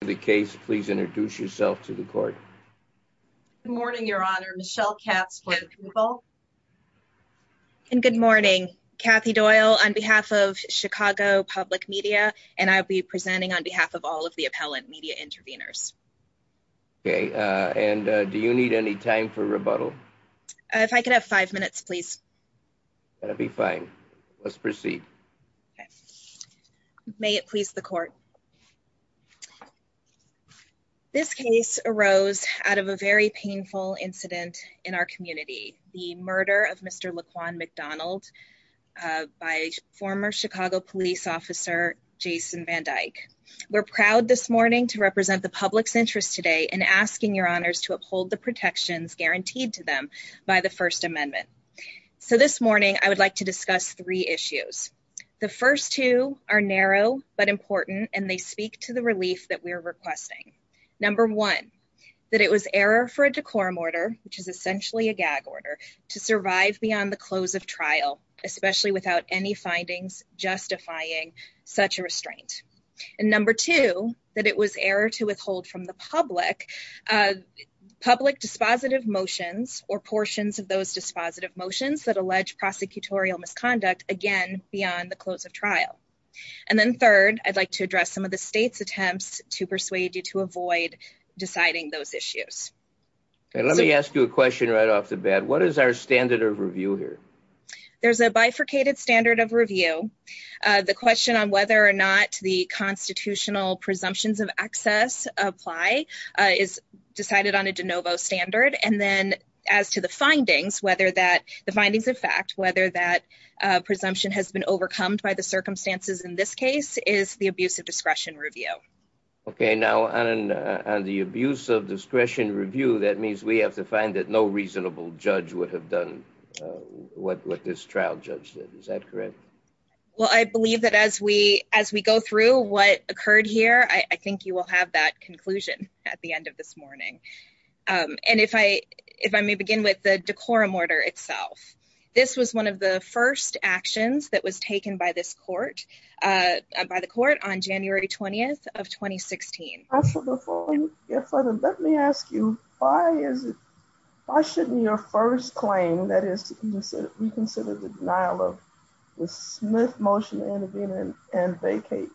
the case please introduce yourself to the court. Good morning, your honor. Michelle Katz for the approval. And good morning. Kathy Doyle on behalf of Chicago Public Media and I'll be presenting on behalf of all of the appellant media interveners. Okay, and do you need any time for rebuttal? If I could have five minutes, please. That'd be fine. Let's proceed. May it please the court. This case arose out of a very painful incident in our community. The murder of Mr. Laquan McDonald by former Chicago police officer Jason Van Dyke. We're proud this morning to represent the public's interest today in asking your honors to uphold the protections guaranteed to them by the First Amendment. So this morning I would like to discuss three issues. The first two are narrow but important and they speak to the relief that we're requesting. Number one, that it was error for a decorum order, which is essentially a gag order, to survive beyond the close of trial, especially without any findings justifying such a restraint. And number two, that it was error to withhold from the public public dispositive motions or portions of those dispositive motions that address some of the state's attempts to persuade you to avoid deciding those issues. Let me ask you a question right off the bat. What is our standard of review here? There's a bifurcated standard of review. The question on whether or not the constitutional presumptions of excess apply is decided on a de novo standard. And then as to the findings, whether that the findings of fact, whether that presumption has been overcome by the circumstances in this case, is the abuse of discretion review. Okay, now on the abuse of discretion review, that means we have to find that no reasonable judge would have done what this trial judge did. Is that correct? Well, I believe that as we go through what occurred here, I think you will have that conclusion at the end of this morning. And if I may begin with the decorum order itself. This was one of the first actions that was taken by this court, by the court on January 20 of 2016. Let me ask you, why is it? Why shouldn't your first claim that is, we consider the denial of the Smith motion intervening and vacate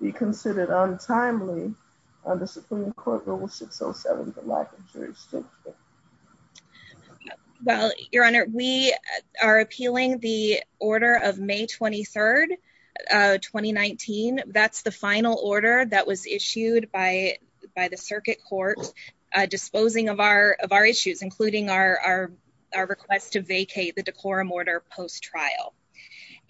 be considered untimely on the Supreme Court Rule 607? Well, Your Honor, we are appealing the order of May 23 2019. That's the final order that was issued by by the circuit court disposing of our of our issues, including our request to vacate the decorum order post trial.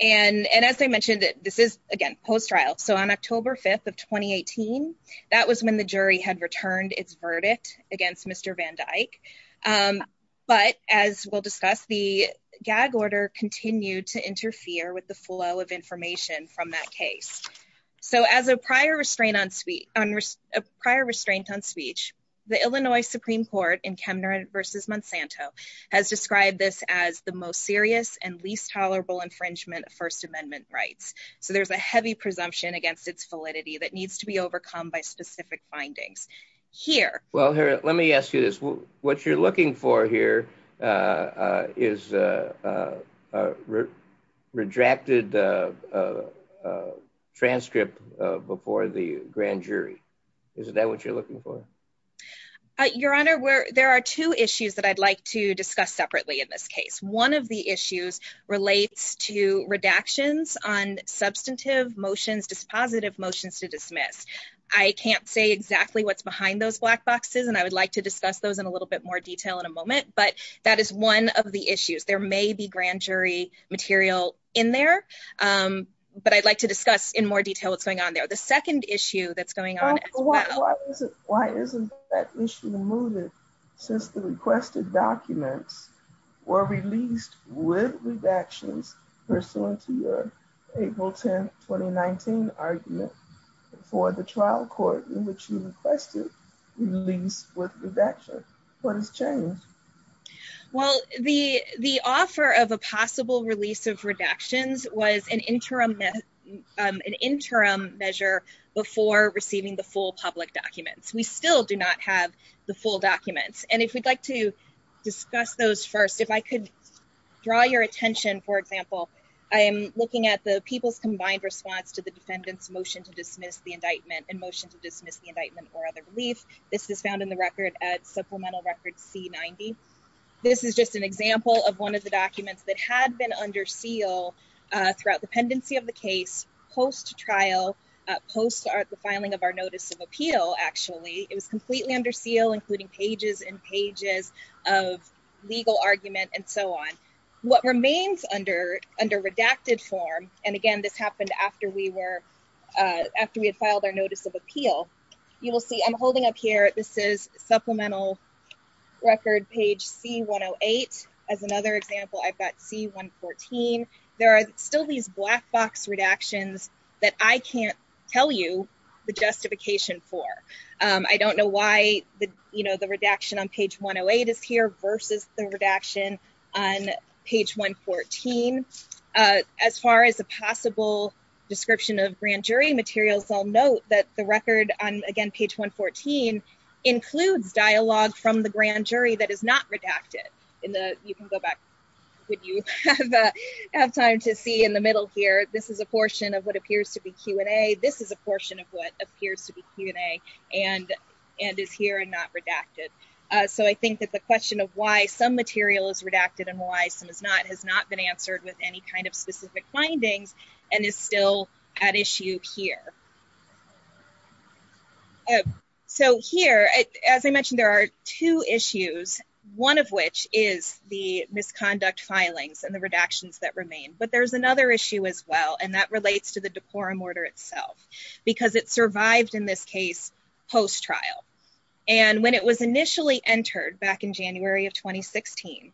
And as I mentioned, this is again, post trial. So on October 5 of 2018, that was when the jury had returned its verdict against Mr. Van Dyke. But as we'll discuss, the gag order continued to interfere with the flow of information from that case. So as a prior restraint on suite on a prior restraint on speech, the Illinois Supreme Court in Kemner versus Monsanto has described this as the most serious and least tolerable infringement of First Amendment rights. So there's a heavy presumption against its validity that needs to be overcome by specific findings here. Well, here, let me ask you this. What you're looking for here is a redrafted transcript before the grand jury. Is that what you're looking for? Your Honor, where there are two issues that I'd like to discuss separately. In this case, one of the issues relates to redactions on substantive motions, dispositive motions to dismiss. I can't say exactly what's behind those black boxes, and I would like to discuss those in a little bit more detail in a moment. But that is one of the issues. There may be grand jury material in there. But I'd like to discuss in more detail what's going on there. The second issue that's going on as well. Why isn't that issue removed since the requested documents were released with redactions pursuant to your April 10, 2019 argument for the trial court in which you requested release with redaction? What has changed? Well, the offer of a possible release of redactions was an interim measure before receiving the full public documents. We still do not have the full documents. And if we'd like to discuss those first, if I could draw your attention, for example, I am looking at the People's Combined Response to the Defendant's Motion to Dismiss the Indictment and Motion to Dismiss the Indictment or Other Relief. This is found in the record at Supplemental Record C90. This is just an example of one of the documents that had been under seal throughout the pendency of the case, post-trial, post the filing of our Notice of Appeal, actually. It was completely under seal, including pages and pages of legal argument and so on. What remains under redacted form, and again, this happened after we were, after we had filed our Notice of Appeal, you will see I'm holding up here, this is Supplemental Record, page C108. As another example, I've got C114. There are still these black box redactions that I can't tell you the justification for. I don't know why the redaction on page 108 is here versus the redaction on page 114. As far as a possible description of grand jury materials, I'll note that the record on, again, page 114 includes dialogue from the grand jury that is not redacted. You can go back if you have time to see in the middle here. This is a portion of what appears to be Q&A. This is a portion of what appears to be Q&A and is here and not redacted. I think that the question of why some material is redacted and why some is not has not been identified. So here, as I mentioned, there are two issues, one of which is the misconduct filings and the redactions that remain, but there's another issue as well, and that relates to the deporum order itself because it survived in this case post-trial. And when it was initially entered back in January of 2016,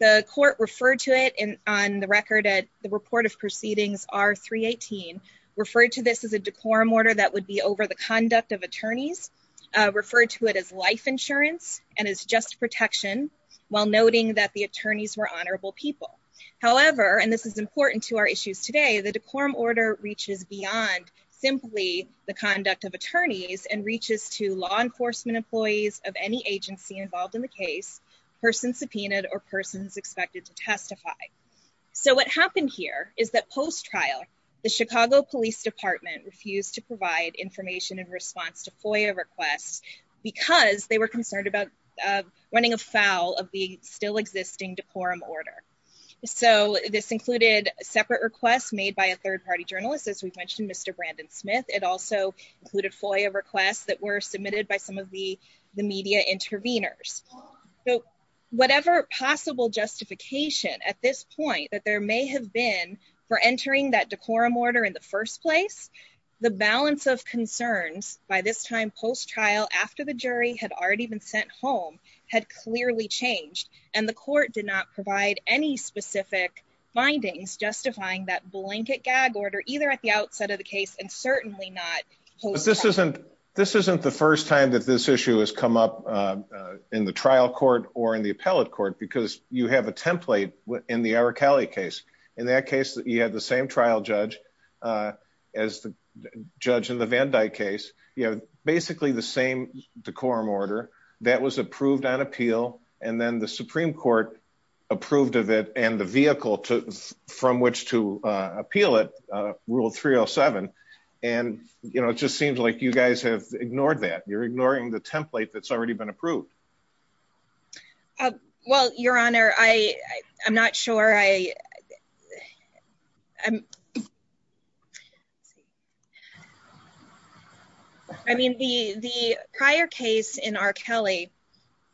the court referred to it on the record at the Report of Proceedings R-318, referred to this as a deporum order that would be over the conduct of attorneys, referred to it as life insurance and as just protection, while noting that the attorneys were honorable people. However, and this is important to our issues today, the deporum order reaches beyond simply the conduct of attorneys and reaches to law enforcement employees of any agency involved in the case, person subpoenaed, or persons expected to testify. So what happened here is that post-trial, the Chicago Police Department refused to provide information in response to FOIA requests because they were concerned about running afoul of the still existing deporum order. So this included separate requests made by a third party journalist, as we've mentioned, Mr. Brandon Smith. It also included FOIA requests that were submitted by some of the media intervenors. So whatever possible justification at this point that there may have been for entering that deporum order in the first place, the balance of concerns by this time post-trial, after the jury had already been sent home, had clearly changed. And the court did not provide any specific findings justifying that blanket gag order, either at the outset of the case and certainly not post-trial. But this isn't the first time that this issue has come up in the trial court or in the appellate because you have a template in the Araceli case. In that case, you had the same trial judge as the judge in the Van Dyke case. You have basically the same deporum order that was approved on appeal. And then the Supreme Court approved of it and the vehicle from which to appeal it, Rule 307. And it just seems like you guys have ignored that. You're ignoring the template that's already been approved. Well, Your Honor, I'm not sure. I mean, the prior case in Araceli,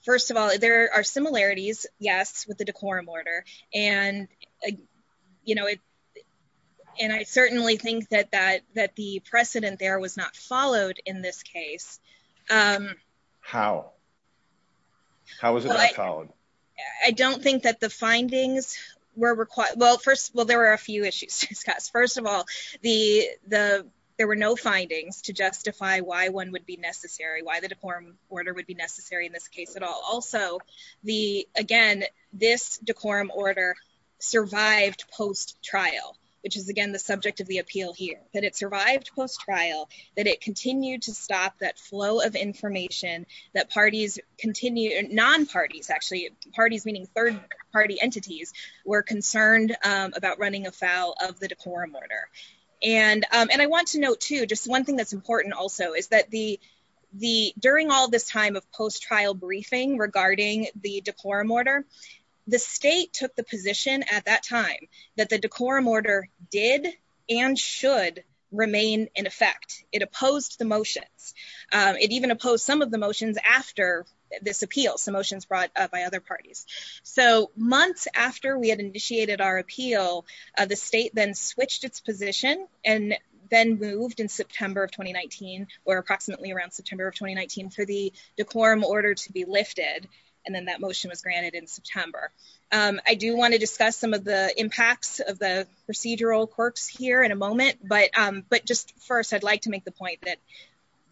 first of all, there are similarities, yes, with the deporum order. And I certainly think that the precedent there was not followed in this case. How? How was it not followed? I don't think that the findings were required. Well, first, well, there were a few issues to discuss. First of all, there were no findings to justify why one would be necessary, why the deporum order would be necessary in this case at all. Also, again, this deporum order survived post-trial, which is, again, the subject of the appeal here, that it survived post-trial, that it continued to stop that flow of information that parties continue, non-parties actually, parties meaning third-party entities, were concerned about running afoul of the deporum order. And I want to note, too, just one thing that's important also is that during all this time of post-trial briefing regarding the deporum order, the state took position at that time that the deporum order did and should remain in effect. It opposed the motions. It even opposed some of the motions after this appeal, some motions brought by other parties. So months after we had initiated our appeal, the state then switched its position and then moved in September of 2019, or approximately around September of 2019, for the deporum order to be in effect. So we want to discuss some of the impacts of the procedural quirks here in a moment, but just first, I'd like to make the point that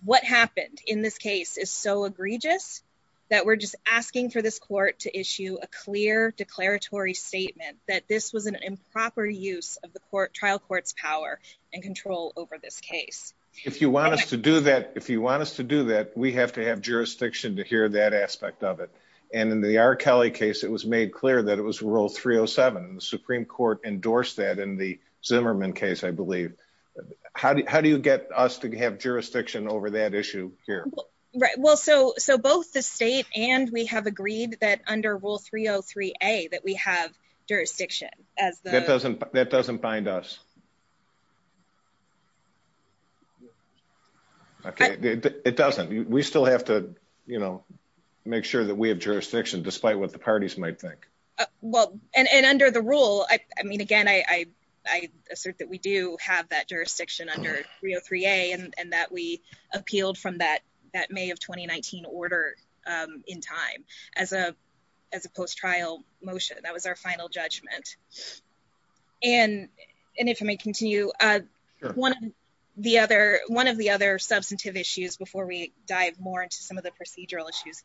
what happened in this case is so egregious that we're just asking for this court to issue a clear declaratory statement that this was an improper use of the trial court's power and control over this case. If you want us to do that, if you want us to do that, we have to have jurisdiction to hear that aspect of it. And in the R. Kelly case, it was made clear that it was Rule 307. The Supreme Court endorsed that in the Zimmerman case, I believe. How do you get us to have jurisdiction over that issue here? Right, well, so both the state and we have agreed that under Rule 303A that we have jurisdiction as the... That doesn't bind us. Okay, it doesn't. We still have to, you know, make sure that we have jurisdiction despite what the parties might think. Well, and under the rule, I mean, again, I assert that we do have that jurisdiction under 303A and that we appealed from that May of 2019 order in time as a post-trial motion. That was our final judgment. And if I may continue, one of the other substantive issues before we dive more into some of the procedural issues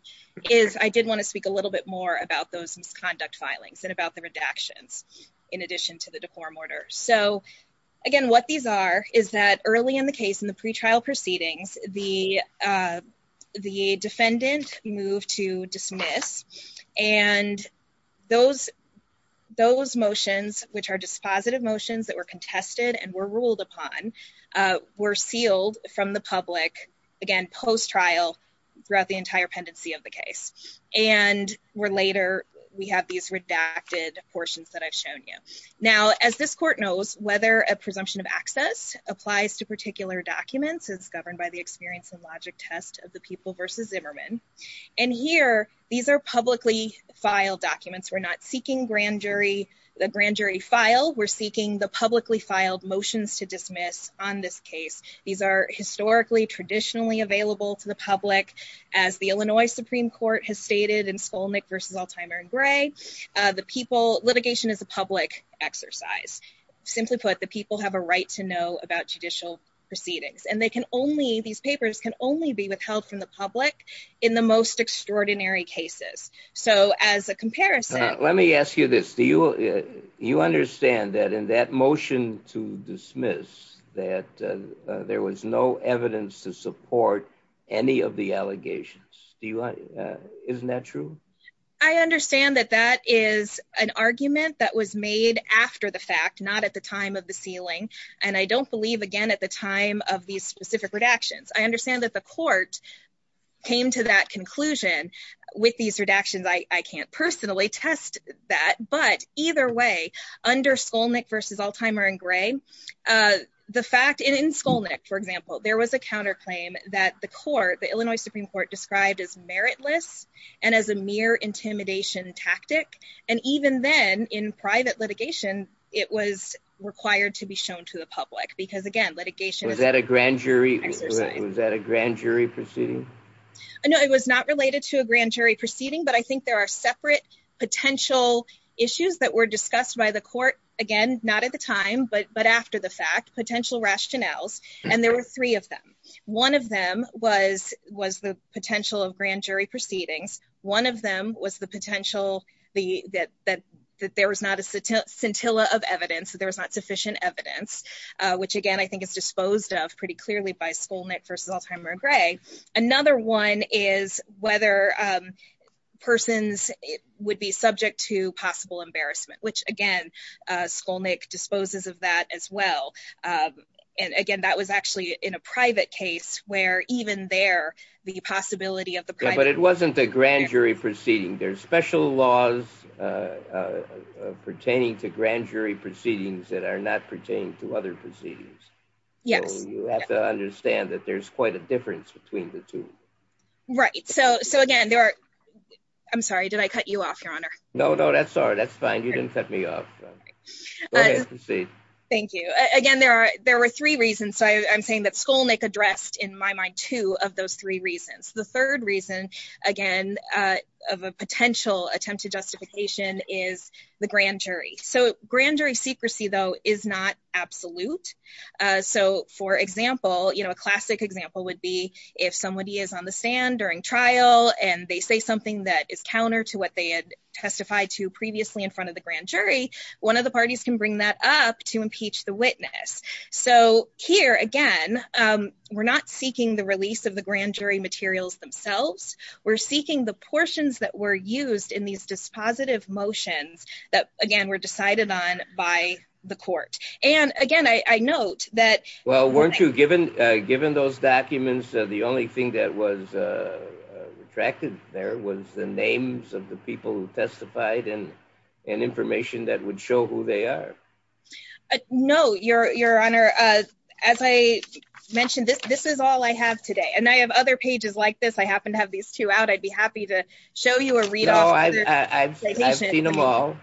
is I did want to speak a little bit more about those misconduct filings and about the redactions in addition to the deform order. So again, what these are is that early in the case, in the pretrial proceedings, the defendant moved to dismiss and those motions, which are dispositive motions that were contested and were ruled upon, were sealed from the public, again, post-trial throughout the entire pendency of the case. And we're later... We have these redacted portions that I've shown you. Now, as this court knows, whether a presumption of access applies to documents, it's governed by the experience and logic test of the people versus Zimmerman. And here, these are publicly filed documents. We're not seeking the grand jury file. We're seeking the publicly filed motions to dismiss on this case. These are historically, traditionally available to the public as the Illinois Supreme Court has stated in Skolnick versus Altimer and Gray. The people... Litigation is a public exercise. Simply put, the people have a right to know about judicial proceedings. And they can only... These papers can only be withheld from the public in the most extraordinary cases. So as a comparison... Let me ask you this. Do you understand that in that motion to dismiss, that there was no evidence to support any of the allegations? Isn't that true? I understand that that is an argument that was made after the fact, not at the time of the sealing. And I don't believe, again, at the time of these specific redactions. I understand that the court came to that conclusion with these redactions. I can't personally test that. But either way, under Skolnick versus Altimer and Gray, the fact... And in Skolnick, for example, there was a counterclaim that the court, the Illinois Supreme Court, described as meritless and as a mere intimidation tactic. And even then, in private litigation, it was required to be shown to the public. Because again, litigation... Was that a grand jury... Exercise. Was that a grand jury proceeding? No, it was not related to a grand jury proceeding. But I think there are separate potential issues that were discussed by the court, again, not at the time, but after the fact, potential rationales. And there were three of them. One of them was the potential of grand jury proceedings. One of them was the potential that there was not a scintilla of evidence, that there was not sufficient evidence, which again, I think is disposed of pretty clearly by Skolnick versus Altimer and Gray. Another one is whether persons would be subject to possible embarrassment, which again, Skolnick disposes of that as well. And again, that was actually in a private case where even there, the possibility of the... But it wasn't a grand jury proceeding. There's special laws pertaining to grand jury proceedings that are not pertaining to other proceedings. Yes. You have to understand that there's quite a difference between the two. Right. So again, there are... I'm sorry, did I cut you off, Your Honor? No, no, that's all right. That's fine. You didn't cut me off. Go ahead. Proceed. Thank you. Again, there were three reasons. So I'm saying that Skolnick addressed, in my mind, two of those three reasons. The third reason, again, of a potential attempt to justification is the grand jury. So grand jury secrecy, though, is not absolute. So for example, a classic example would be if somebody is on the stand during trial and they say something that is counter to what they had testified to previously in front of the grand jury, one of the parties can bring that up to impeach the witness. So here, again, we're not seeking the release of the grand jury materials themselves. We're seeking the portions that were used in these dispositive motions that, again, were decided on by the court. And again, I note that... Well, weren't you, given those documents, the only thing that was testified and information that would show who they are? No, Your Honor. As I mentioned, this is all I have today. And I have other pages like this. I happen to have these two out. I'd be happy to show you or read off... No, I've seen them all.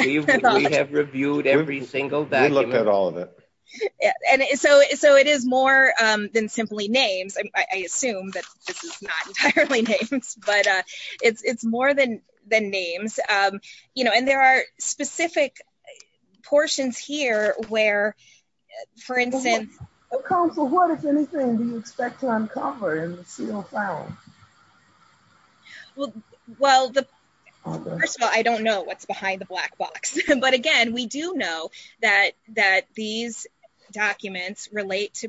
We have reviewed every single document. We looked at all of it. And so it is more than simply names. I assume that this is not entirely names, but it's more than names. And there are specific portions here where, for instance... Counsel, what, if anything, do you expect to uncover in the sealed file? Well, first of all, I don't know what's behind the black box. But again, we do know that these documents relate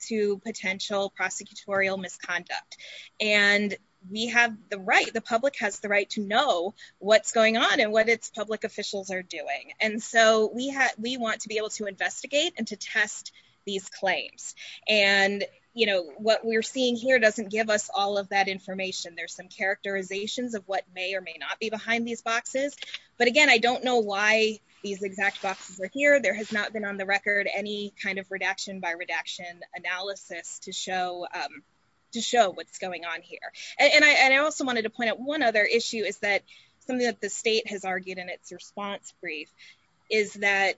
to potential prosecutorial misconduct. And the public has the right to know what's going on and what its public officials are doing. And so we want to be able to investigate and to test these claims. And what we're seeing here doesn't give us all of that information. There's some characterizations of what may or may not be behind these boxes. But again, I don't know these exact boxes are here. There has not been on the record any kind of redaction by redaction analysis to show what's going on here. And I also wanted to point out one other issue is that something that the state has argued in its response brief is that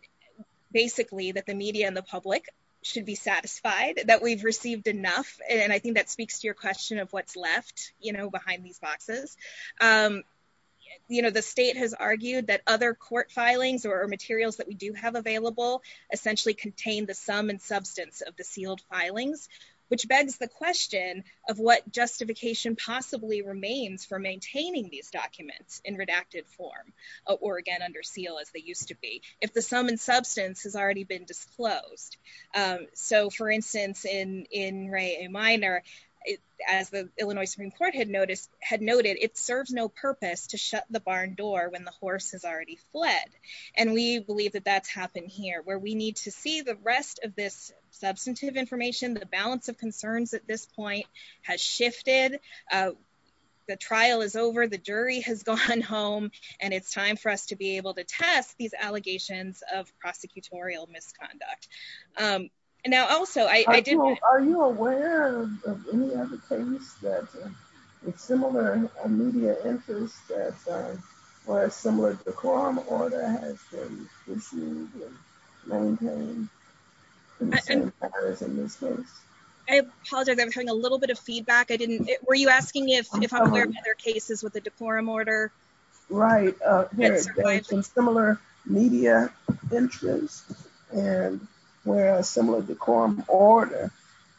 basically that the media and the public should be satisfied that we've received enough. And I think that speaks to your question of what's left, you know, behind these boxes. You know, the state has argued that other court filings or materials that we do have available, essentially contain the sum and substance of the sealed filings, which begs the question of what justification possibly remains for maintaining these documents in redacted form, or again, under seal as they used to be, if the sum and substance has already been disclosed. So for instance, in in Ray a minor, as the Illinois Supreme Court had noticed, had noted, it serves no purpose to shut the barn door when the horse has already fled. And we believe that that's happened here where we need to see the rest of this substantive information, the balance of concerns at this point has shifted. The trial is over, the jury has gone home, and it's time for us to be able to test these allegations of prosecutorial misconduct. And now also, I did, are you aware of any other case that with similar media interests that are similar to the quorum order has been issued and maintained? I apologize, I'm having a little bit of feedback. I didn't, were you asking if if I'm aware of other cases with the decorum order? Right. Similar media interest and whereas similar decorum order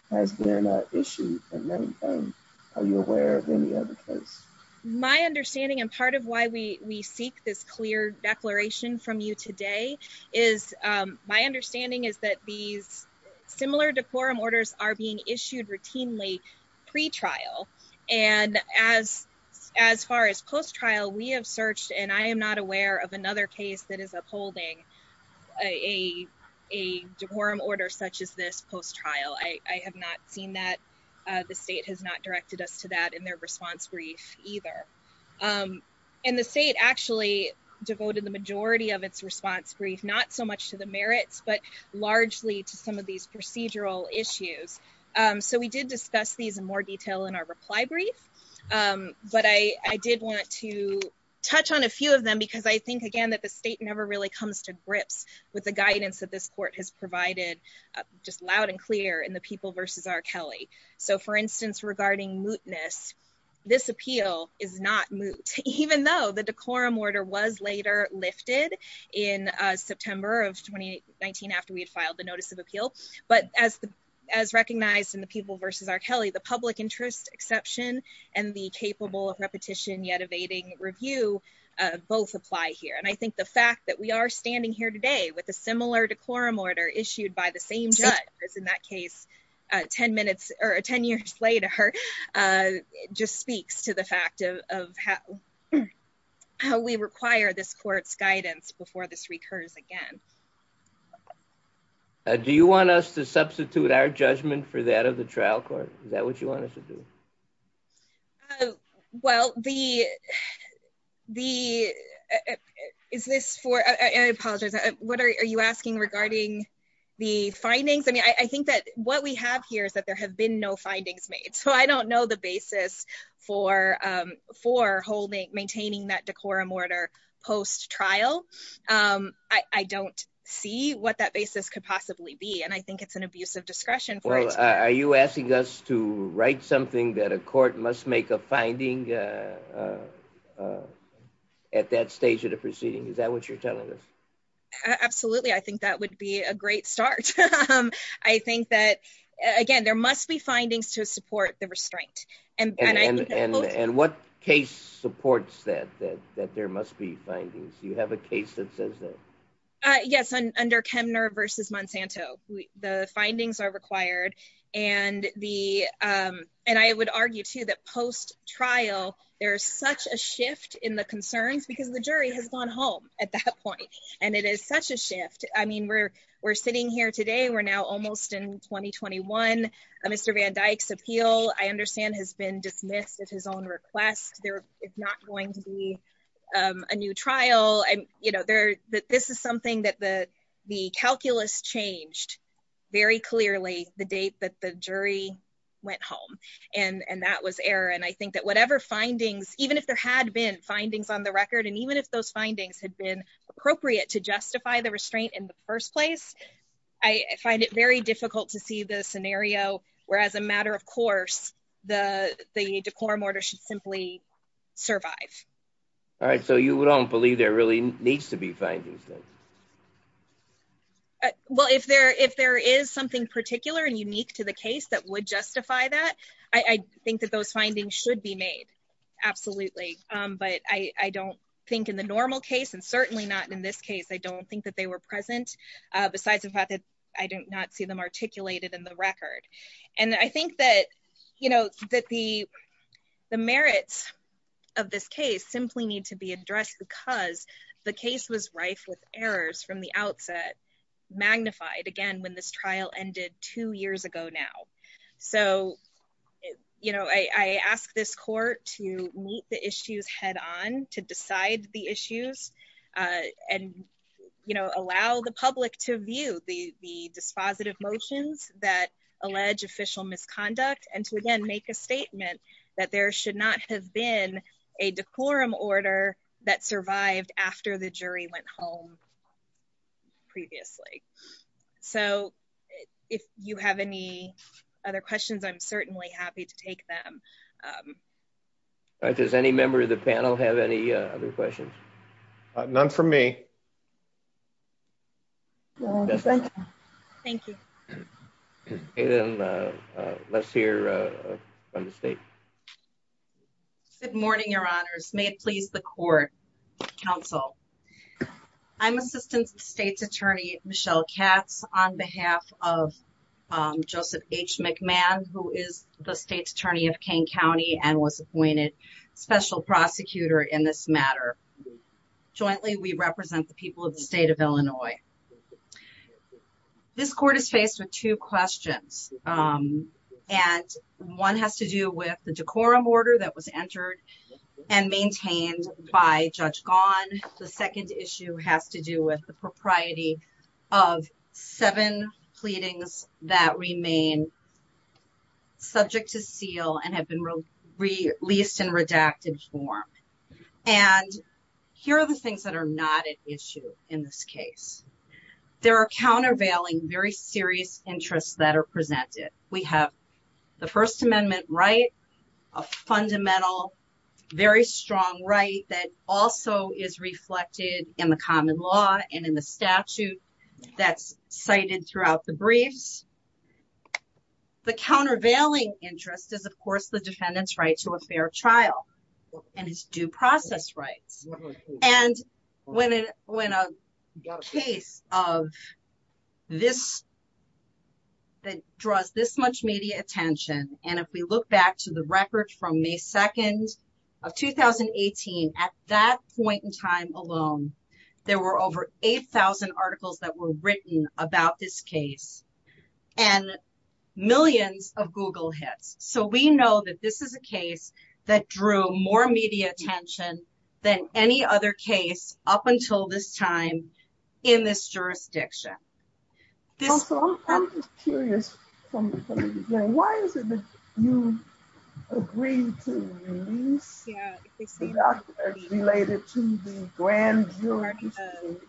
has been issued and maintained. Are you aware of any other case? My understanding and part of why we seek this clear declaration from you today is my understanding is that these similar decorum are being issued routinely pre-trial. And as far as post-trial, we have searched and I am not aware of another case that is upholding a decorum order such as this post-trial. I have not seen that. The state has not directed us to that in their response brief either. And the state actually devoted the majority of its response brief, not so much to the merits, but largely to some of these procedural issues. So we did discuss these in more detail in our reply brief. But I did want to touch on a few of them because I think again, that the state never really comes to grips with the guidance that this court has provided just loud and clear in the people versus R. Kelly. So for instance, regarding mootness, this appeal is not moot, even though the decorum order was lifted in September of 2019 after we had filed the notice of appeal. But as recognized in the people versus R. Kelly, the public interest exception and the capable of repetition yet evading review both apply here. And I think the fact that we are standing here today with a similar decorum order issued by the same judge as in that case, 10 minutes or 10 years later, just speaks to the this court's guidance before this recurs again. Do you want us to substitute our judgment for that of the trial court? Is that what you want us to do? Well, the, the, is this for, I apologize, what are you asking regarding the findings? I mean, I think that what we have here is that there have been no findings made. So I don't know the basis for, for holding, maintaining that decorum order post trial. I don't see what that basis could possibly be. And I think it's an abuse of discretion. Well, are you asking us to write something that a court must make a finding at that stage of the proceeding? Is that what you're telling us? Absolutely. I think that would be a great start. I think that, again, there must be findings to support the restraint. And what case supports that, that, that there must be findings. Do you have a case that says that? Yes. Under Kemner versus Monsanto, the findings are required. And the, and I would argue too, that post trial, there's such a shift in the concerns because the jury has gone home at that point. And it is such a shift. I mean, we're, sitting here today, we're now almost in 2021. Mr. Van Dyck's appeal, I understand has been dismissed at his own request. There is not going to be a new trial. And you know, there, this is something that the, the calculus changed very clearly the date that the jury went home. And that was error. And I think that whatever findings, even if there had been findings on the record, and even if those findings had been appropriate to justify the restraint in the first place, I find it very difficult to see the scenario where as a matter of course, the, the decorum order should simply survive. All right. So you don't believe there really needs to be findings then? Well, if there, if there is something particular and unique to the case that would justify that, I think that those findings should be made. Absolutely. But I, I don't think in the normal case, and certainly not in this case, I don't think that they were present. Besides the fact that I did not see them articulated in the record. And I think that, you know, that the, the merits of this case simply need to be addressed because the case was rife with errors from the outset, magnified again, when this trial ended two years ago now. So, you know, I asked this court to meet the issues head on to decide the issues and, you know, allow the public to view the, the dispositive motions that allege official misconduct. And to again, make a statement that there should not have been a decorum order that survived after the jury went home previously. So if you have any other questions, I'm certainly happy to take them. All right. Does any member of the panel have any other questions? None for me. Thank you. Let's hear from the state. Good morning, your honors. May it please the court, counsel. I'm assistant state's attorney, Michelle Katz on behalf of Joseph H. McMahon, who is the state's attorney of Kane County and was appointed special prosecutor in this matter. Jointly, we represent the people of the state of Illinois. This court is faced with two questions. And one has to do with the decorum order that was entered and maintained by Judge Gahn. The second issue has to do with the propriety of seven pleadings that remain subject to seal and have been released in redacted form. And here are the things that are not at issue in this case. There are countervailing very serious interests that are presented. We have the first amendment right, a fundamental, very strong right that also is a fair trial. And it's due process rights. And when a case of this, that draws this much media attention, and if we look back to the record from May 2nd of 2018, at that point in time alone, there were over 8,000 articles that were written about this case and millions of Google hits. So we know that this is a case that drew more media attention than any other case up until this time in this jurisdiction. I'm just curious, why is it that you agreed to release the doctor related to the grand jury proceedings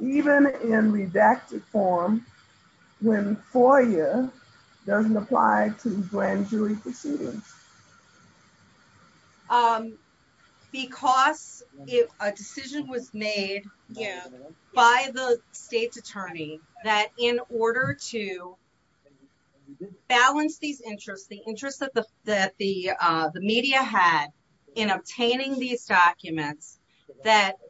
even in redacted form when FOIA doesn't apply to grand jury proceedings? Because if a decision was made by the state's attorney that in order to that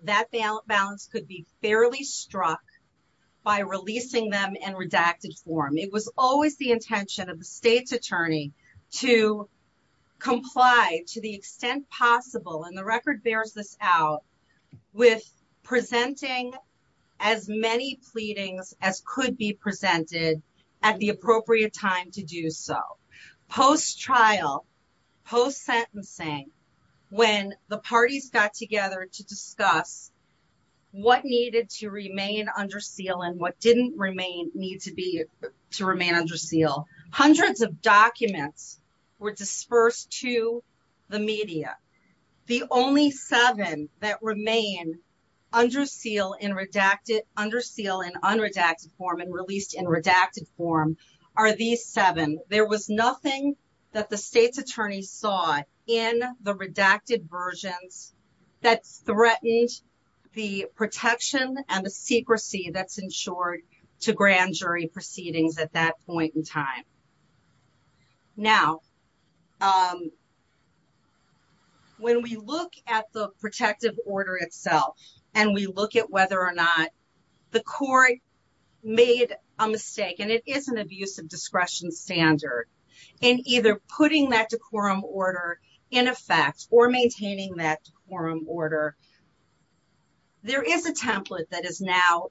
that balance could be fairly struck by releasing them in redacted form, it was always the intention of the state's attorney to comply to the extent possible. And the record bears this out with presenting as many pleadings as could be presented at the appropriate time to do so. Post-trial, post-sentencing, when the parties got together to discuss what needed to remain under seal and what didn't need to remain under seal, hundreds of documents were dispersed to the media. The only seven that remain under seal in unredacted form and released in redacted form are these seven. There was nothing that the state's attorney saw in the redacted versions that threatened the protection and the secrecy that's ensured to grand jury proceedings at that point in time. Now, when we look at the protective order itself and we look at whether or not the standard in either putting that decorum order in effect or maintaining that decorum order, there is a template that is now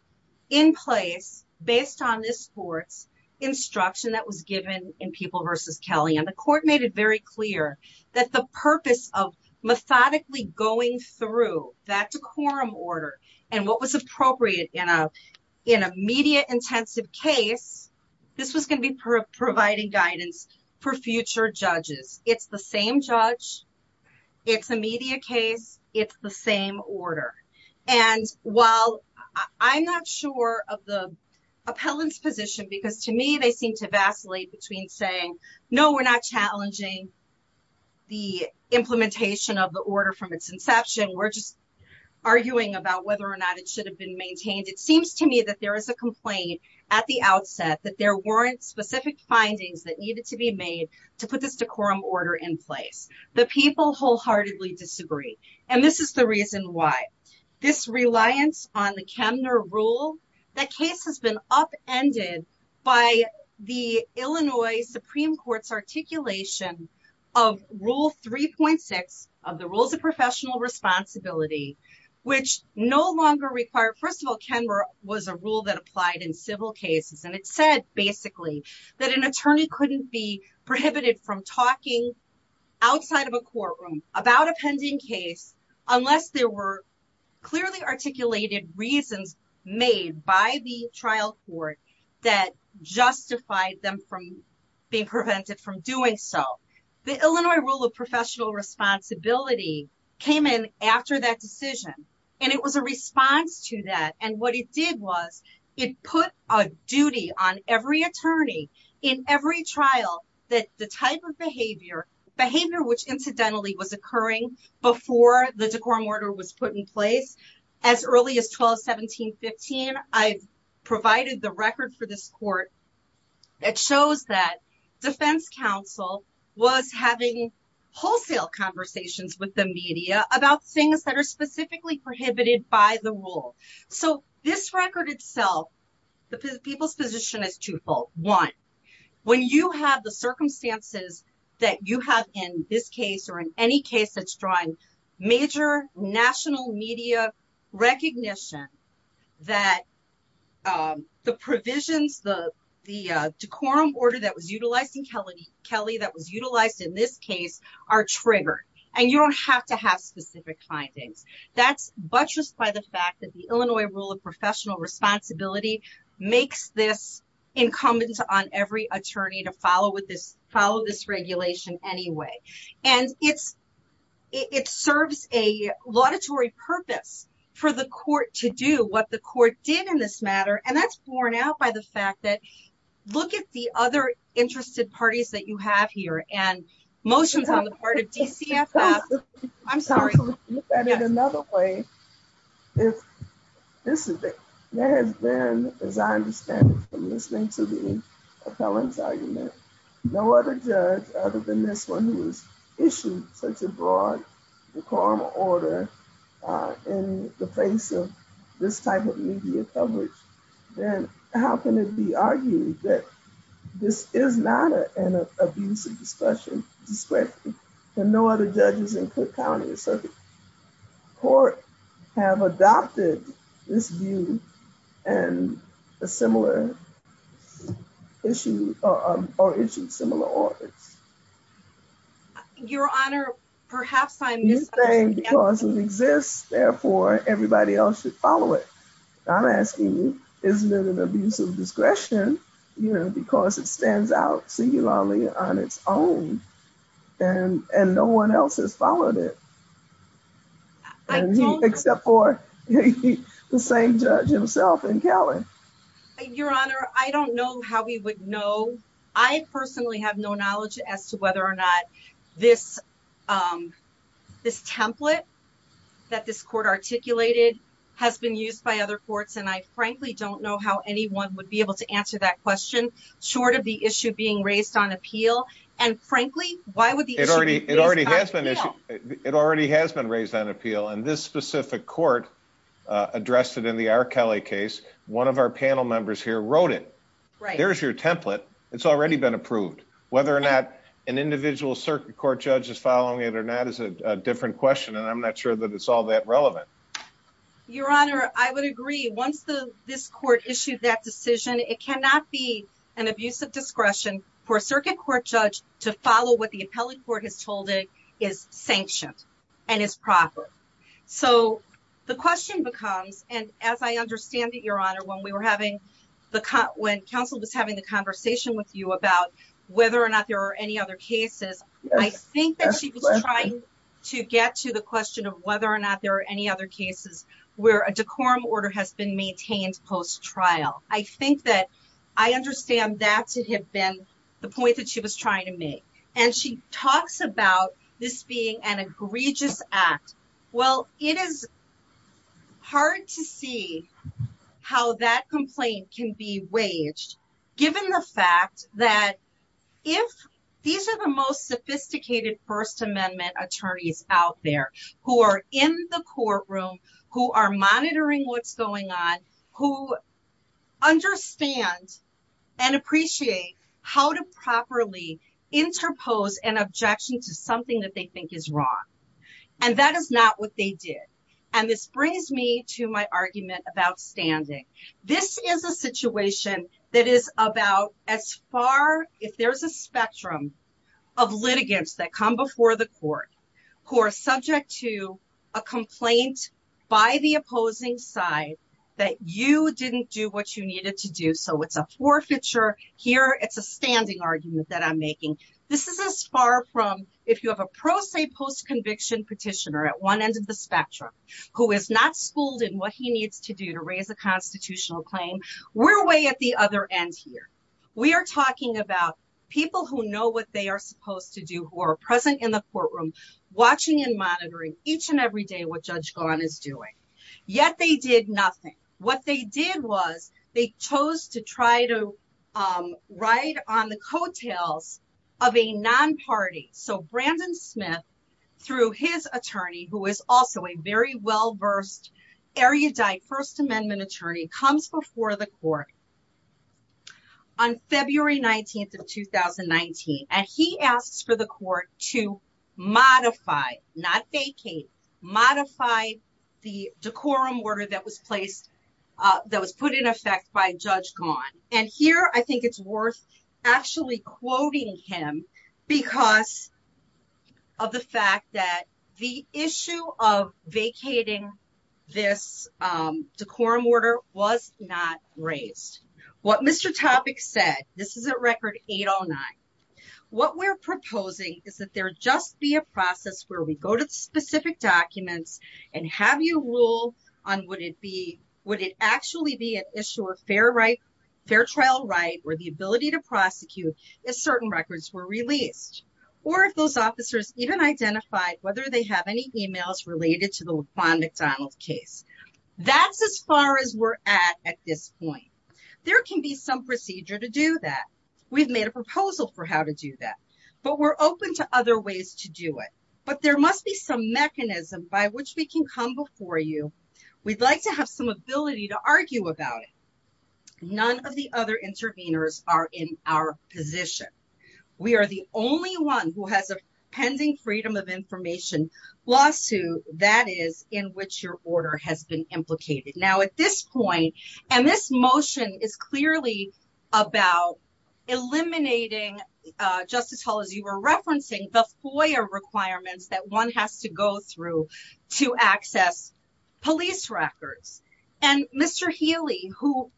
in place based on this court's instruction that was given in People v. Kelley. And the court made it very clear that the purpose of methodically going through that decorum order and what was appropriate in a media-intensive case, this was going to be providing guidance for future judges. It's the same judge, it's a media case, it's the same order. And while I'm not sure of the appellant's position, because to me they seem to vacillate between saying, no, we're not challenging the implementation of the order from its inception, we're just arguing about whether or not it should have been maintained. It seems to me that there is a complaint at the outset that there weren't specific findings that needed to be made to put this decorum order in place. The people wholeheartedly disagree. And this is the reason why. This reliance on the Kemner rule, that case has been upended by the Illinois Supreme Court's articulation of Rule 3.6 of the Rules of Professional Responsibility, which no longer required, first of all, Kemner was a rule that applied in civil cases. And it said, basically, that an attorney couldn't be prohibited from talking outside of a courtroom about a pending case unless there were clearly articulated reasons made by the trial court that justified them from being prevented from doing so. The Illinois Rule of Professional Responsibility came in after that decision. And it was a response to that. And what it did was it put a duty on every attorney in every trial that the type of behavior, behavior which incidentally was occurring before the decorum order was put in place. As early as 12-17-15, I've provided the record for this court that shows that defense counsel was having wholesale conversations with the media about things that are specifically prohibited by the rule. So this record itself, the people's position is twofold. One, when you have the circumstances that you have in this case or in any case that's drawing major national media recognition, that the provisions, the decorum order that was utilized in Kelly that was utilized in this case are triggered. And you don't have to have specific findings. That's buttressed by the fact that the Illinois Rule of Professional Responsibility makes this incumbent on every attorney to follow this regulation anyway. And it's, it serves a laudatory purpose for the court to do what the court did in this matter. And that's borne out by the fact that look at the other interested parties that you have here and motions on the part of DCFF. I'm sorry. Look at it another way. If there has been, as I understand it from listening to the appellant's argument, no other judge other than this one who has issued such a broad decorum order in the face of this type of media coverage, then how can it be argued that this is not an abuse of discretion? And no other judges in Cook County or Circuit Court have adopted this view and a similar issue or issued similar orders. Your Honor, perhaps I'm misunderstanding. Because it exists, therefore everybody else should follow it. I'm asking you, is it an abuse of discretion? You know, because it stands out singularly on its own and no one else has followed it. Except for the same judge himself in Cali. Your Honor, I don't know how we would know. I personally have no knowledge as to whether or not this template that this court articulated has been used by other courts. And I frankly don't know how anyone would be able to answer that question, short of the issue being raised on appeal. And frankly, why would the issue be raised on appeal? It already has been raised on appeal and this specific court addressed it in the R. Kelly case. One of our panel members here wrote it. There's your template. It's already been approved. Whether or not an individual Circuit Court judge is following it or not is a different question and I'm not sure that it's all that relevant. Your Honor, I would agree. Once this court issued that decision, it cannot be an abuse of discretion for a Circuit Court judge to follow what the appellate court has told it is sanctioned and is proper. So the question becomes, and as I understand it, Your Honor, when counsel was having the conversation with you about whether or not there are any other cases, I think that she was trying to get to the question of whether or not there are any other cases where a decorum order has been maintained post-trial. I think that I understand that to have been the point that she was trying to make. And she talks about this being an egregious act. Well, it is hard to see how that complaint can be waged given the fact that if these are the sophisticated First Amendment attorneys out there who are in the courtroom, who are monitoring what's going on, who understand and appreciate how to properly interpose an objection to something that they think is wrong. And that is not what they did. And this brings me to my argument about litigants that come before the court who are subject to a complaint by the opposing side that you didn't do what you needed to do. So it's a forfeiture. Here, it's a standing argument that I'm making. This is as far from if you have a pro se post-conviction petitioner at one end of the spectrum who is not schooled in what he needs to do to raise a constitutional claim, we're way at the other end here. We are talking about people who know what they are supposed to do, who are present in the courtroom, watching and monitoring each and every day what Judge Gawne is doing. Yet they did nothing. What they did was they chose to try to ride on the coattails of a non-party. So Brandon Smith, through his attorney, who is also a very well-versed, erudite First Amendment attorney, comes before the court on February 19th of 2019. And he asks for the court to modify, not vacate, modify the decorum order that was placed, that was put in effect by Judge Gawne. And here, I think it's worth actually quoting him because of the fact that the issue of vacating this decorum order was not raised. What Mr. Topic said, this is at Record 809, what we're proposing is that there just be a process where we go to specific documents and have you rule on would it actually be an issue of fair trial right or the ability to prosecute if certain records were released. Or if those officers even identified whether they have emails related to the Laquan McDonald case. That's as far as we're at at this point. There can be some procedure to do that. We've made a proposal for how to do that. But we're open to other ways to do it. But there must be some mechanism by which we can come before you. We'd like to have some ability to argue about it. None of the other interveners are in our position. We are the only one who has a pending freedom of information lawsuit that is in which your order has been implicated. Now, at this point, and this motion is clearly about eliminating, Justice Hall, as you were referencing, the FOIA requirements that one has to go through to access police records. And Mr. Healy, who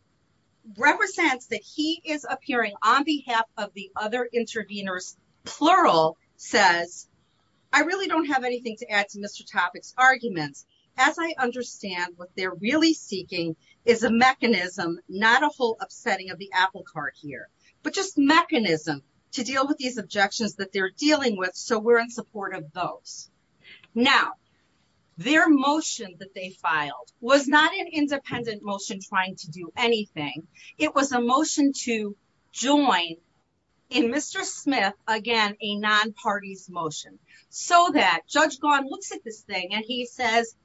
represents that he is appearing on behalf of the other interveners, plural, says, I really don't have anything to add to Mr. Topic's arguments. As I understand, what they're really seeking is a mechanism, not a whole upsetting of the apple cart here, but just mechanism to deal with these objections that they're dealing with. So we're in support of those. Now, their motion that they filed was not an independent motion trying to do anything. It was a motion to join in Mr. Smith, again, a non-parties motion, so that Judge Gawne looks at this thing and he says,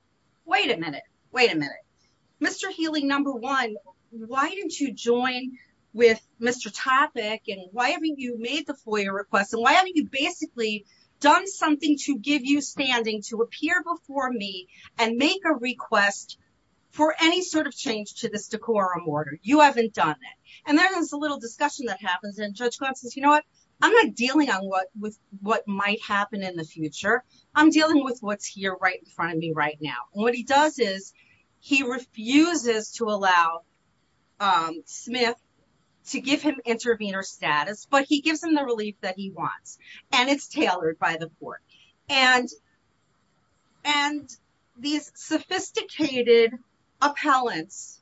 wait a minute, wait a minute, Mr. Healy, number one, why didn't you join with Mr. Topic? And why haven't you made the FOIA request? And why haven't you basically done something to give you standing to appear before me and make a request for any sort of change to this decorum order? You haven't done it. And then there's a little discussion that happens and Judge Gawne says, you know what, I'm not dealing with what might happen in the future. I'm dealing with what's here right in front of me right now. And what he does is he refuses to allow the court to do that. And these sophisticated appellants,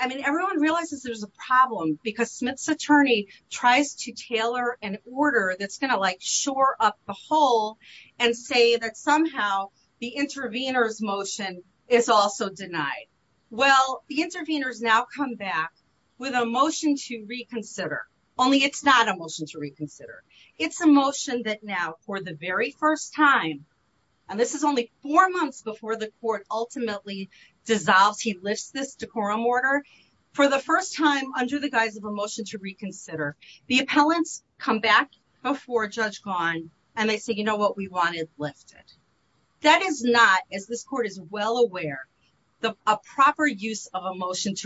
I mean, everyone realizes there's a problem because Smith's attorney tries to tailor an order that's going to like shore up the hole and say that somehow the intervener's motion is also denied. Well, the interveners now come back with a motion to reconsider, only it's not a motion to reconsider. It's a motion that now for the very first time, and this is only four months before the court ultimately dissolves, he lifts this decorum order for the first time under the guise of a motion to reconsider. The appellants come back before Judge Gawne and they say, you know what, we want it lifted. That is not, as this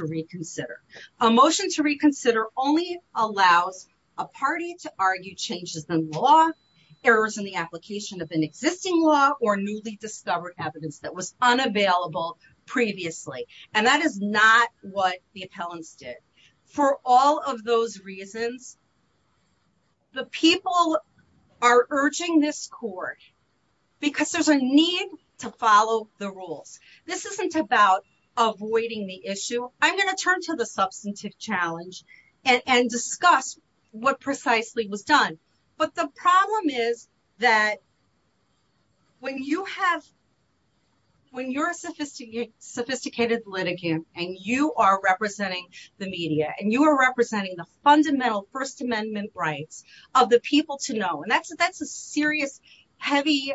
reconsider. A motion to reconsider only allows a party to argue changes in law, errors in the application of an existing law or newly discovered evidence that was unavailable previously. And that is not what the appellants did. For all of those reasons, the people are urging this court because there's a need to follow the rules. This isn't about avoiding the issue. I'm going to turn to the substantive challenge and discuss what precisely was done. But the problem is that when you're a sophisticated litigant and you are representing the media and you are representing the fundamental first amendment rights of the people to know, and that's a serious, heavy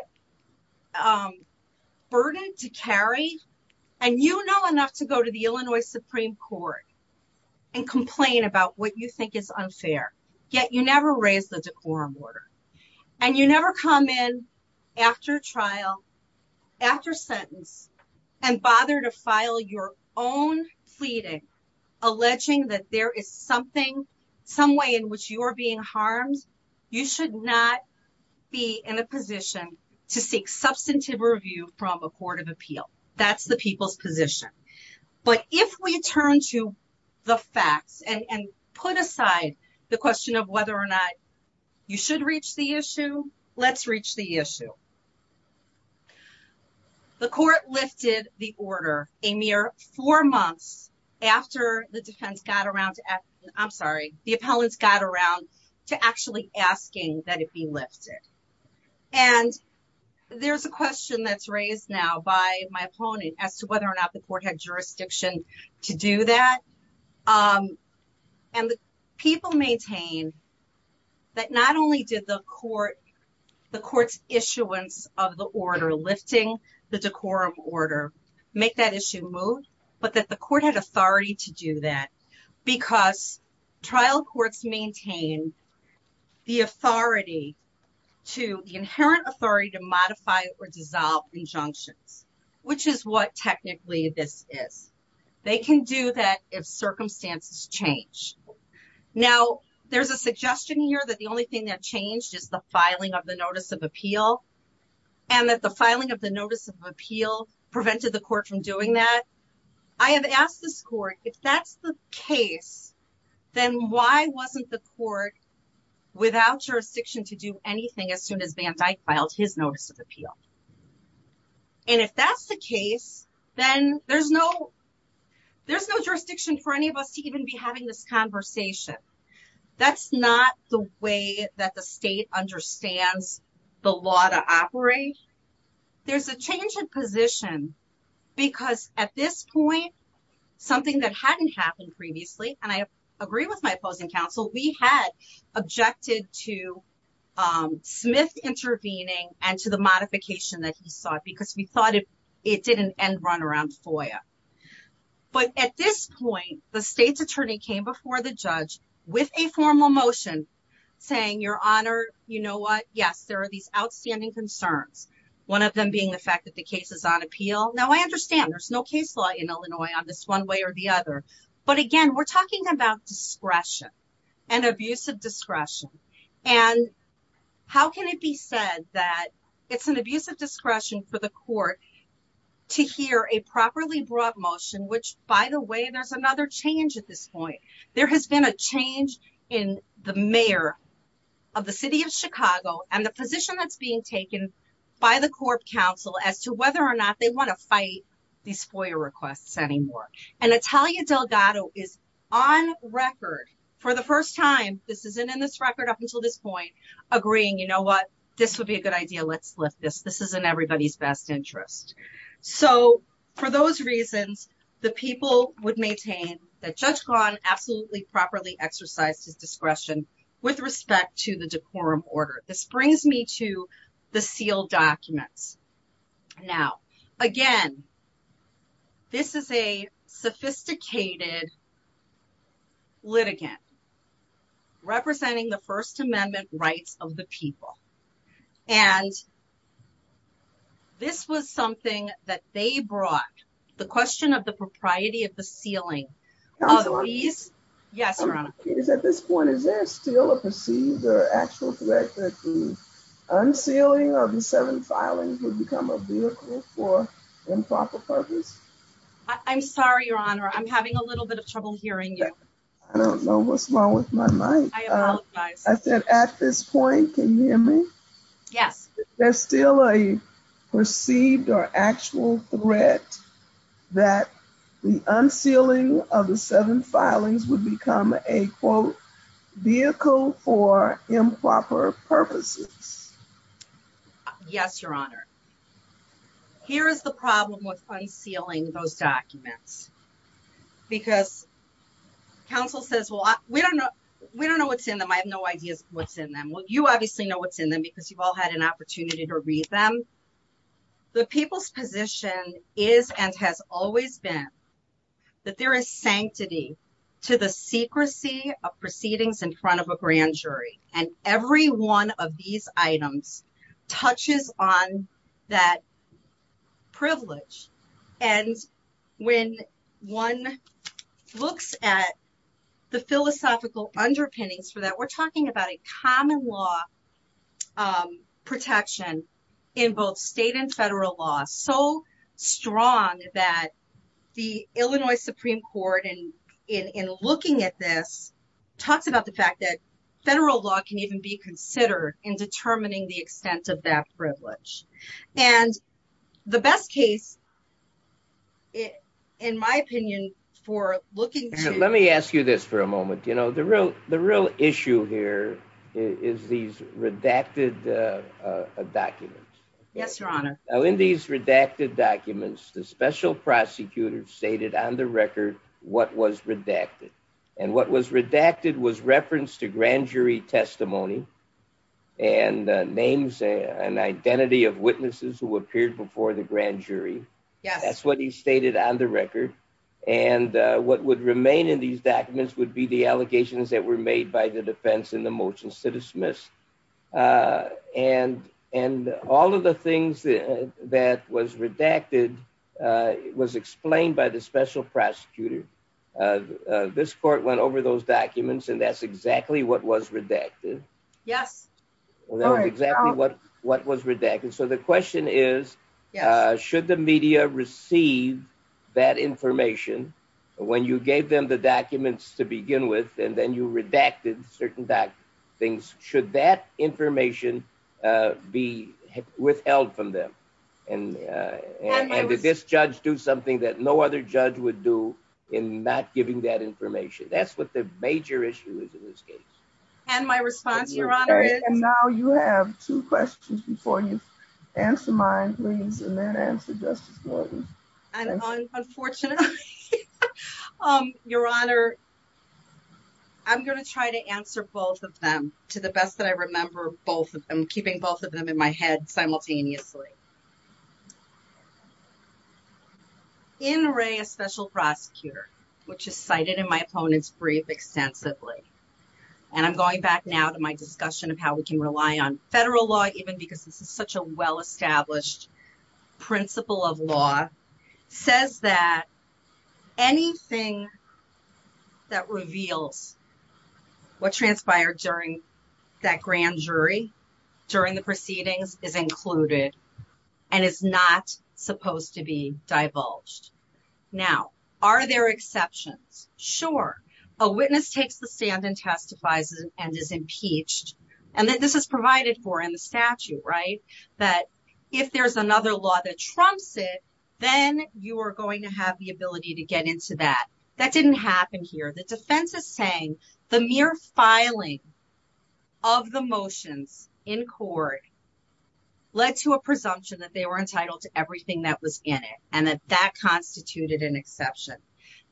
burden to carry. And you know enough to go to the Illinois Supreme Court and complain about what you think is unfair. Yet you never raise the decorum order and you never come in after trial, after sentence, and bother to file your own pleading alleging that there is something, some way in which you are being harmed. You should not be in a position to seek substantive review from a court of appeal. That's the people's position. But if we turn to the facts and put aside the question of whether or not you should reach the issue, let's reach the issue. The court lifted the order a mere four months after the defense got around to, I'm sorry, the appellants got around to actually asking that it be lifted. And there's a question that's raised now by my opponent as to whether or not the court had jurisdiction to do that. And the people maintain that not only did the court's issuance of the order lifting the decorum order make that issue move, but that the court had authority to do that because trial courts maintain the authority to, the inherent authority to modify or dissolve injunctions, which is what technically this is. They can do that if circumstances change. Now, there's a suggestion here that the only thing that changed is the filing of the notice of appeal and that the filing of the notice of appeal prevented the court from doing that. I have asked this court, if that's the case, then why wasn't the court without jurisdiction to do anything as soon as Van Dyke filed his notice of appeal? And if that's the case, then there's no jurisdiction for any of us to even be having this conversation. That's not the way that the state understands the law to operate. There's a change of position because at this point, something that hadn't happened previously, and I agree with my opposing counsel, we had objected to Smith intervening and to the modification that he sought because we thought it did an end run around FOIA. But at this point, the state's attorney came before the judge with a formal motion saying, your honor, you know what? Yes, there are these outstanding concerns. One of them being the fact that the case is on appeal. Now, I understand there's no case law in Illinois on this one way or the other, but again, we're talking about discretion and abusive discretion. And how can it be said that it's an abusive discretion for the court to hear a properly brought motion, which by the way, there's another change at this point. There has been a change in the mayor of the city of Chicago and the position that's being taken by the court counsel as to whether or not they want to fight these FOIA requests anymore. And Natalia Delgado is on record for the first time, this isn't in this record up until this point, agreeing, you know what? This would be a good idea. Let's lift this. This is in everybody's best interest. So for those reasons, the people would maintain that Judge Kahn absolutely properly exercised his discretion with respect to the decorum order. This brings me to the sealed documents. Now, again, this is a sophisticated litigant representing the first amendment rights of the people. And this was something that they brought the question of the propriety of the unsealing. Is there still a perceived or actual threat that the unsealing of the seven filings would become a vehicle for improper purpose? I'm sorry, your honor. I'm having a little bit of trouble hearing you. I don't know what's wrong with my mic. I said at this point, can you Yes, your honor. Here is the problem with unsealing those documents. Because counsel says, well, we don't know. We don't know what's in them. I have no idea what's in them. Well, you obviously know what's in them because you've all had an opportunity to read them. The people's position is and has always been that there is sanctity to the secrecy of proceedings in front of a grand jury. And every one of these items touches on that privilege. And when one looks at the philosophical underpinnings for that, we're talking about a common law of protection in both state and federal law so strong that the Illinois Supreme Court, and in looking at this, talks about the fact that federal law can even be considered in determining the extent of that privilege. And the best case, in my opinion, for looking Let me ask you this for a moment. The real issue here is these redacted documents. Yes, your honor. In these redacted documents, the special prosecutor stated on the record what was redacted. And what was redacted was reference to grand jury testimony and names and identity of witnesses who appeared before the grand jury. That's what he stated on the record. And what would remain in these documents would be the allegations that were made by the defense in the motion to dismiss. And all of the things that was redacted was explained by the special prosecutor. This court went over those documents, and that's exactly what was redacted. Well, that was exactly what was redacted. So the question is, should the media receive that information when you gave them the documents to begin with, and then you redacted certain things? Should that information be withheld from them? And did this judge do something that no other judge would do in not giving that information? That's what the major issue is in this case. And my response, your honor, is... Now you have two questions before you answer mine, please, and then answer Justice Morgan's. Unfortunately, your honor, I'm going to try to answer both of them to the best that I remember both of them, keeping both of them in my head simultaneously. In Ray, a special prosecutor, which is cited in my opponent's brief extensively, and I'm going back now to my discussion of how we can rely on federal law, even because this is such a well-established principle of law, says that anything that reveals what transpired during that grand jury, during the proceedings, is included and is not supposed to be divulged. Now, are there exceptions? Sure. A witness takes the stand and testifies and is impeached. And this is provided for in the statute, right? That if there's another law that trumps it, then you are going to have the ability to get into that. That didn't happen here. The defense is saying the mere filing of the motions in court led to a presumption that they were entitled to an exception.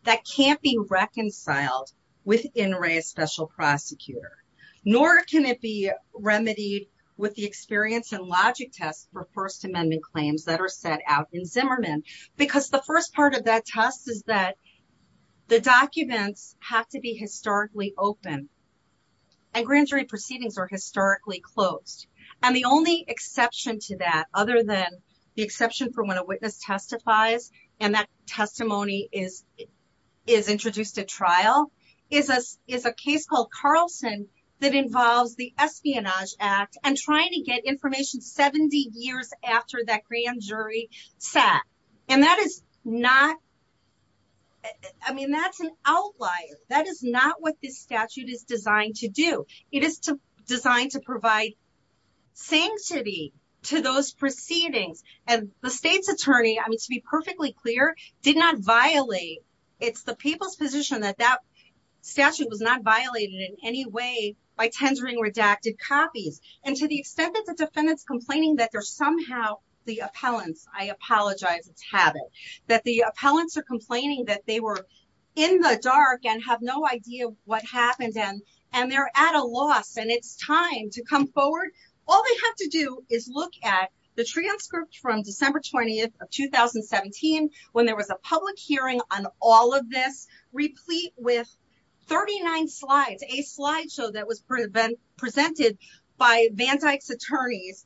That can't be reconciled within Ray's special prosecutor, nor can it be remedied with the experience and logic test for First Amendment claims that are set out in Zimmerman, because the first part of that test is that the documents have to be historically open. And grand jury proceedings are historically closed. And the only exception to that, other than the exception for when a witness testifies and that testimony is introduced at trial, is a case called Carlson that involves the Espionage Act and trying to get information 70 years after that grand jury sat. And that is not, I mean, that's an outlier. That is not what this statute is designed to do. It is designed to provide sanctity to those proceedings. And the state's attorney, I mean, to be perfectly clear, did not violate. It's the people's position that that statute was not violated in any way by tendering redacted copies. And to the extent that the defendant's complaining that there's somehow the appellants, I apologize, it's habit, that the appellants are complaining that they were in the dark and have no idea what happened and they're at a loss and it's time to come forward. All they have to do is look at the transcript from December 20th of 2017, when there was a public hearing on all of this, replete with 39 slides, a slide show that was presented by Van Dyck's attorneys,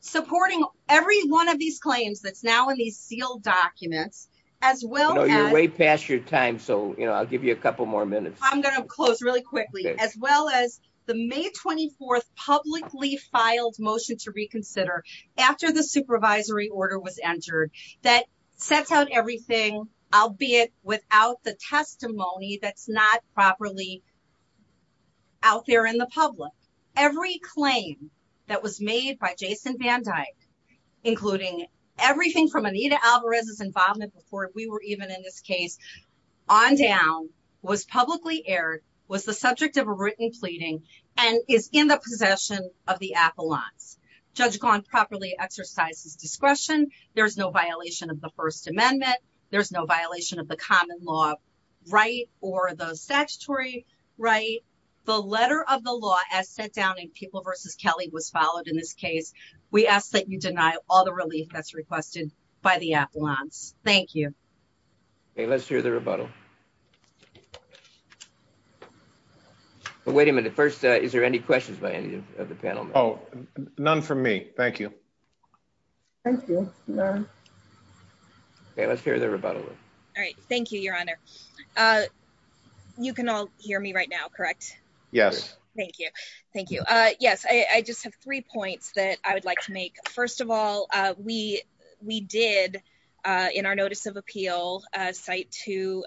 supporting every one of these claims that's now in these sealed documents, as well as... No, you're way past your time. So, you know, I'll give you a couple more minutes. I'm going to close really quickly, as well as the May 24th publicly filed motion to reconsider after the supervisory order was entered that sets out everything, albeit without the testimony that's not properly out there in the public. Every claim that was made by Jason Van Dyck, including everything from Anita Alvarez's involvement before we were even in this case on down, was publicly aired, was the subject of a written pleading and is in the possession of the appellants. Judge Gawne properly exercises discretion. There's no violation of the First or the statutory right. The letter of the law as set down in People v. Kelly was followed in this case. We ask that you deny all the relief that's requested by the appellants. Thank you. Okay, let's hear the rebuttal. Wait a minute. First, is there any questions by any of the panel? Oh, none from me. Thank you. Thank you. Okay, let's hear the rebuttal. All right. Thank you, Your Honor. You can all hear me right now, correct? Yes. Thank you. Thank you. Yes, I just have three points that I would like to make. First of all, we did, in our notice of appeal, cite to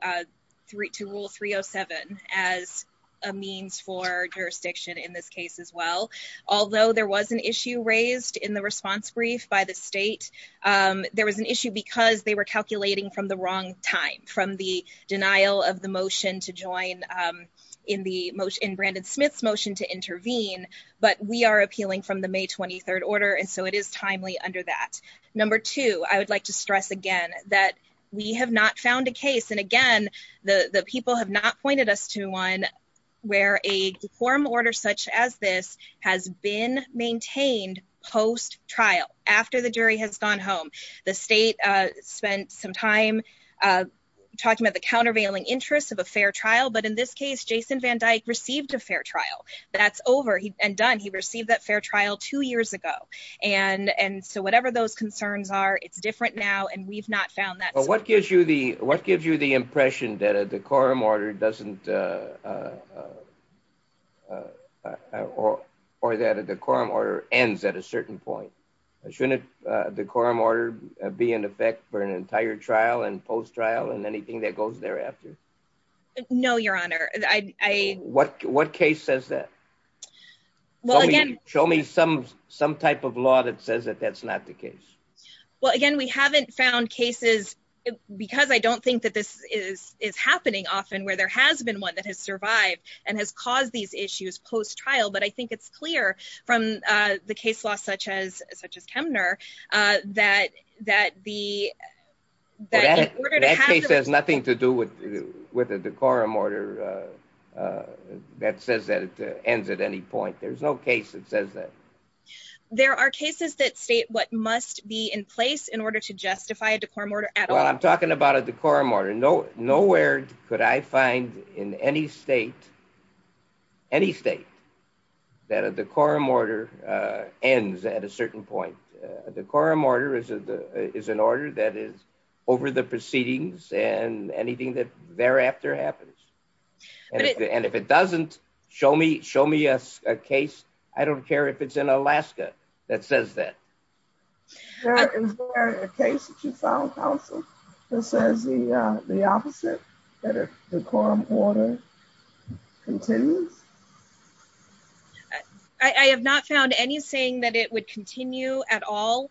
rule 307 as a means for jurisdiction in this case as well. Although there was an issue raised in the response brief by the state, there was an issue because they were calculating from the wrong time, from the denial of the motion to join in Brandon Smith's motion to intervene. But we are appealing from the May 23rd order, and so it is timely under that. Number two, I would like to stress again that we have not found a case, and again, the people have not pointed us to one where a form order such as this has been maintained post-trial, after the jury has gone home. The state spent some time talking about the countervailing interests of a fair trial, but in this case, Jason Van Dyke received a fair trial. That's over and done. He received that fair trial two years ago, and so whatever those concerns are, it's different now, and we've not found that. But what gives you the impression that a decorum order doesn't, or that a decorum order ends at a certain point? Shouldn't the decorum order be in effect for an entire trial and post-trial and anything that goes thereafter? No, Your Honor. What case says that? Show me some type of law that says that that's not the case. Well, again, we haven't found cases, because I don't think that this is happening often, where there has been one that has survived and has caused these issues post-trial, but I think it's clear from the case law, such as Kemner, that the... That case has nothing to do with a decorum order that says that it ends at any point. There's no case that says that. There are cases that state what must be in place in order to justify a decorum order at all. I'm talking about a decorum order. Nowhere could I find in any state, any state, that a decorum order ends at a certain point. A decorum order is an order that is over the proceedings and anything that thereafter happens. And if it doesn't, show me a case. I don't care if it's in Alaska that says that. Is there a case that you found, counsel, that says the opposite, that a decorum order continues? I have not found any saying that it would continue at all.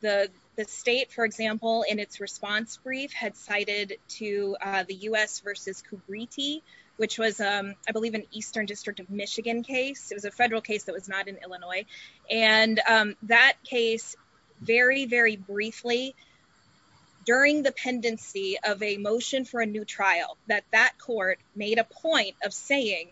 The state, for example, in its response brief, had cited to the U.S. versus Kubriti, which was, I believe, an Eastern District of Michigan case. It was a federal case that was not in Illinois. And that case, very, very briefly, during the pendency of a motion for a new trial, that that court made a point of saying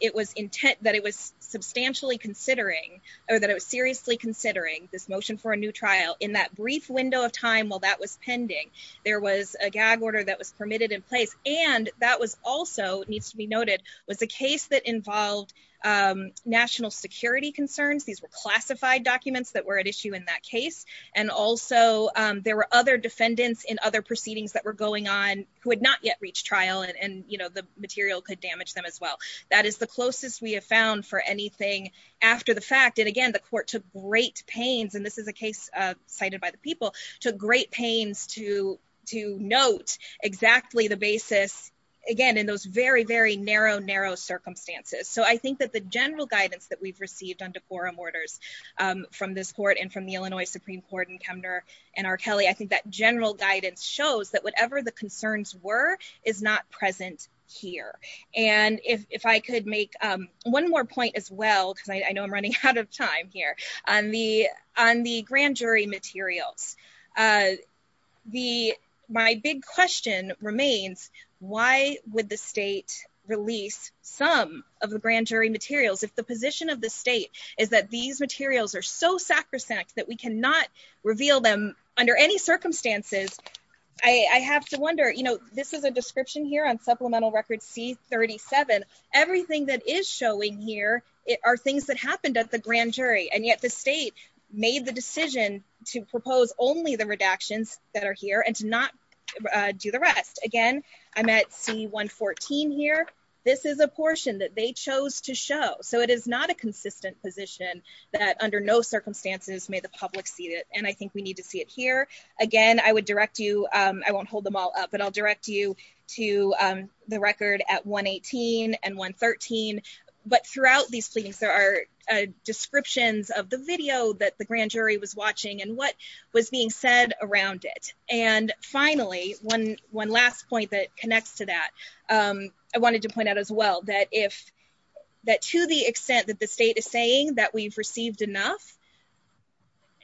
it was intent, that it was substantially considering, or that it was seriously considering this motion for a new trial in that brief window of time while that was pending. There was a gag order that was permitted in place. And that was also, it needs to be noted, was a case that involved national security concerns. These were classified documents that were at issue in that case. And also, there were other defendants in other proceedings that were going on who had not yet reached trial, and the material could damage them as well. That is the closest we have found for anything after the fact. And again, the court took great pains, and this is a case cited by the people, took great pains to note exactly the basis, again, in those very, very narrow, narrow circumstances. So I think that the general guidance that we've received under quorum orders from this court and from the Illinois Supreme Court and Kemner and R. Kelly, I think that general guidance shows that whatever the concerns were is not present here. And if I could make one more point as well, because I know I'm running out of time here, on the grand jury materials. The, my big question remains, why would the state release some of the grand jury materials if the position of the state is that these materials are so sacrosanct that we cannot reveal them under any circumstances? I have to wonder, you know, this is a description here on supplemental record C-37. Everything that is showing here are things that happened at the grand jury, and yet the state made the decision to propose only the redactions that are here and to not do the rest. Again, I'm at C-114 here. This is a portion that they chose to show, so it is not a consistent position that under no circumstances may the public see it, and I think we need to see it here. Again, I would direct you, I won't hold them all up, but I'll direct you to the record at 118 and of the video that the grand jury was watching and what was being said around it. And finally, one last point that connects to that, I wanted to point out as well that if, that to the extent that the state is saying that we've received enough,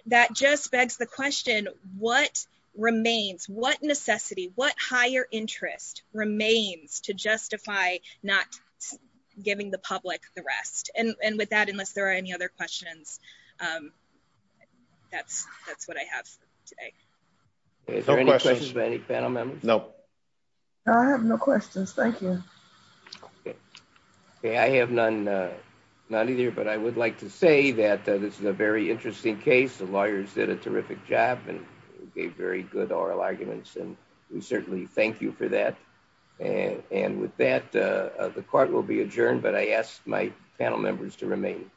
that just begs the question, what remains? What necessity, what higher interest remains to justify not giving the public the rest? And with that, unless there are any other questions, that's what I have today. Is there any questions for any panel members? No. No, I have no questions, thank you. Okay, I have none either, but I would like to say that this is a very interesting case. The lawyers did a terrific job and gave very good oral arguments, and we certainly thank you for that. And with that, the court will be adjourned, but I ask my panel members to remain.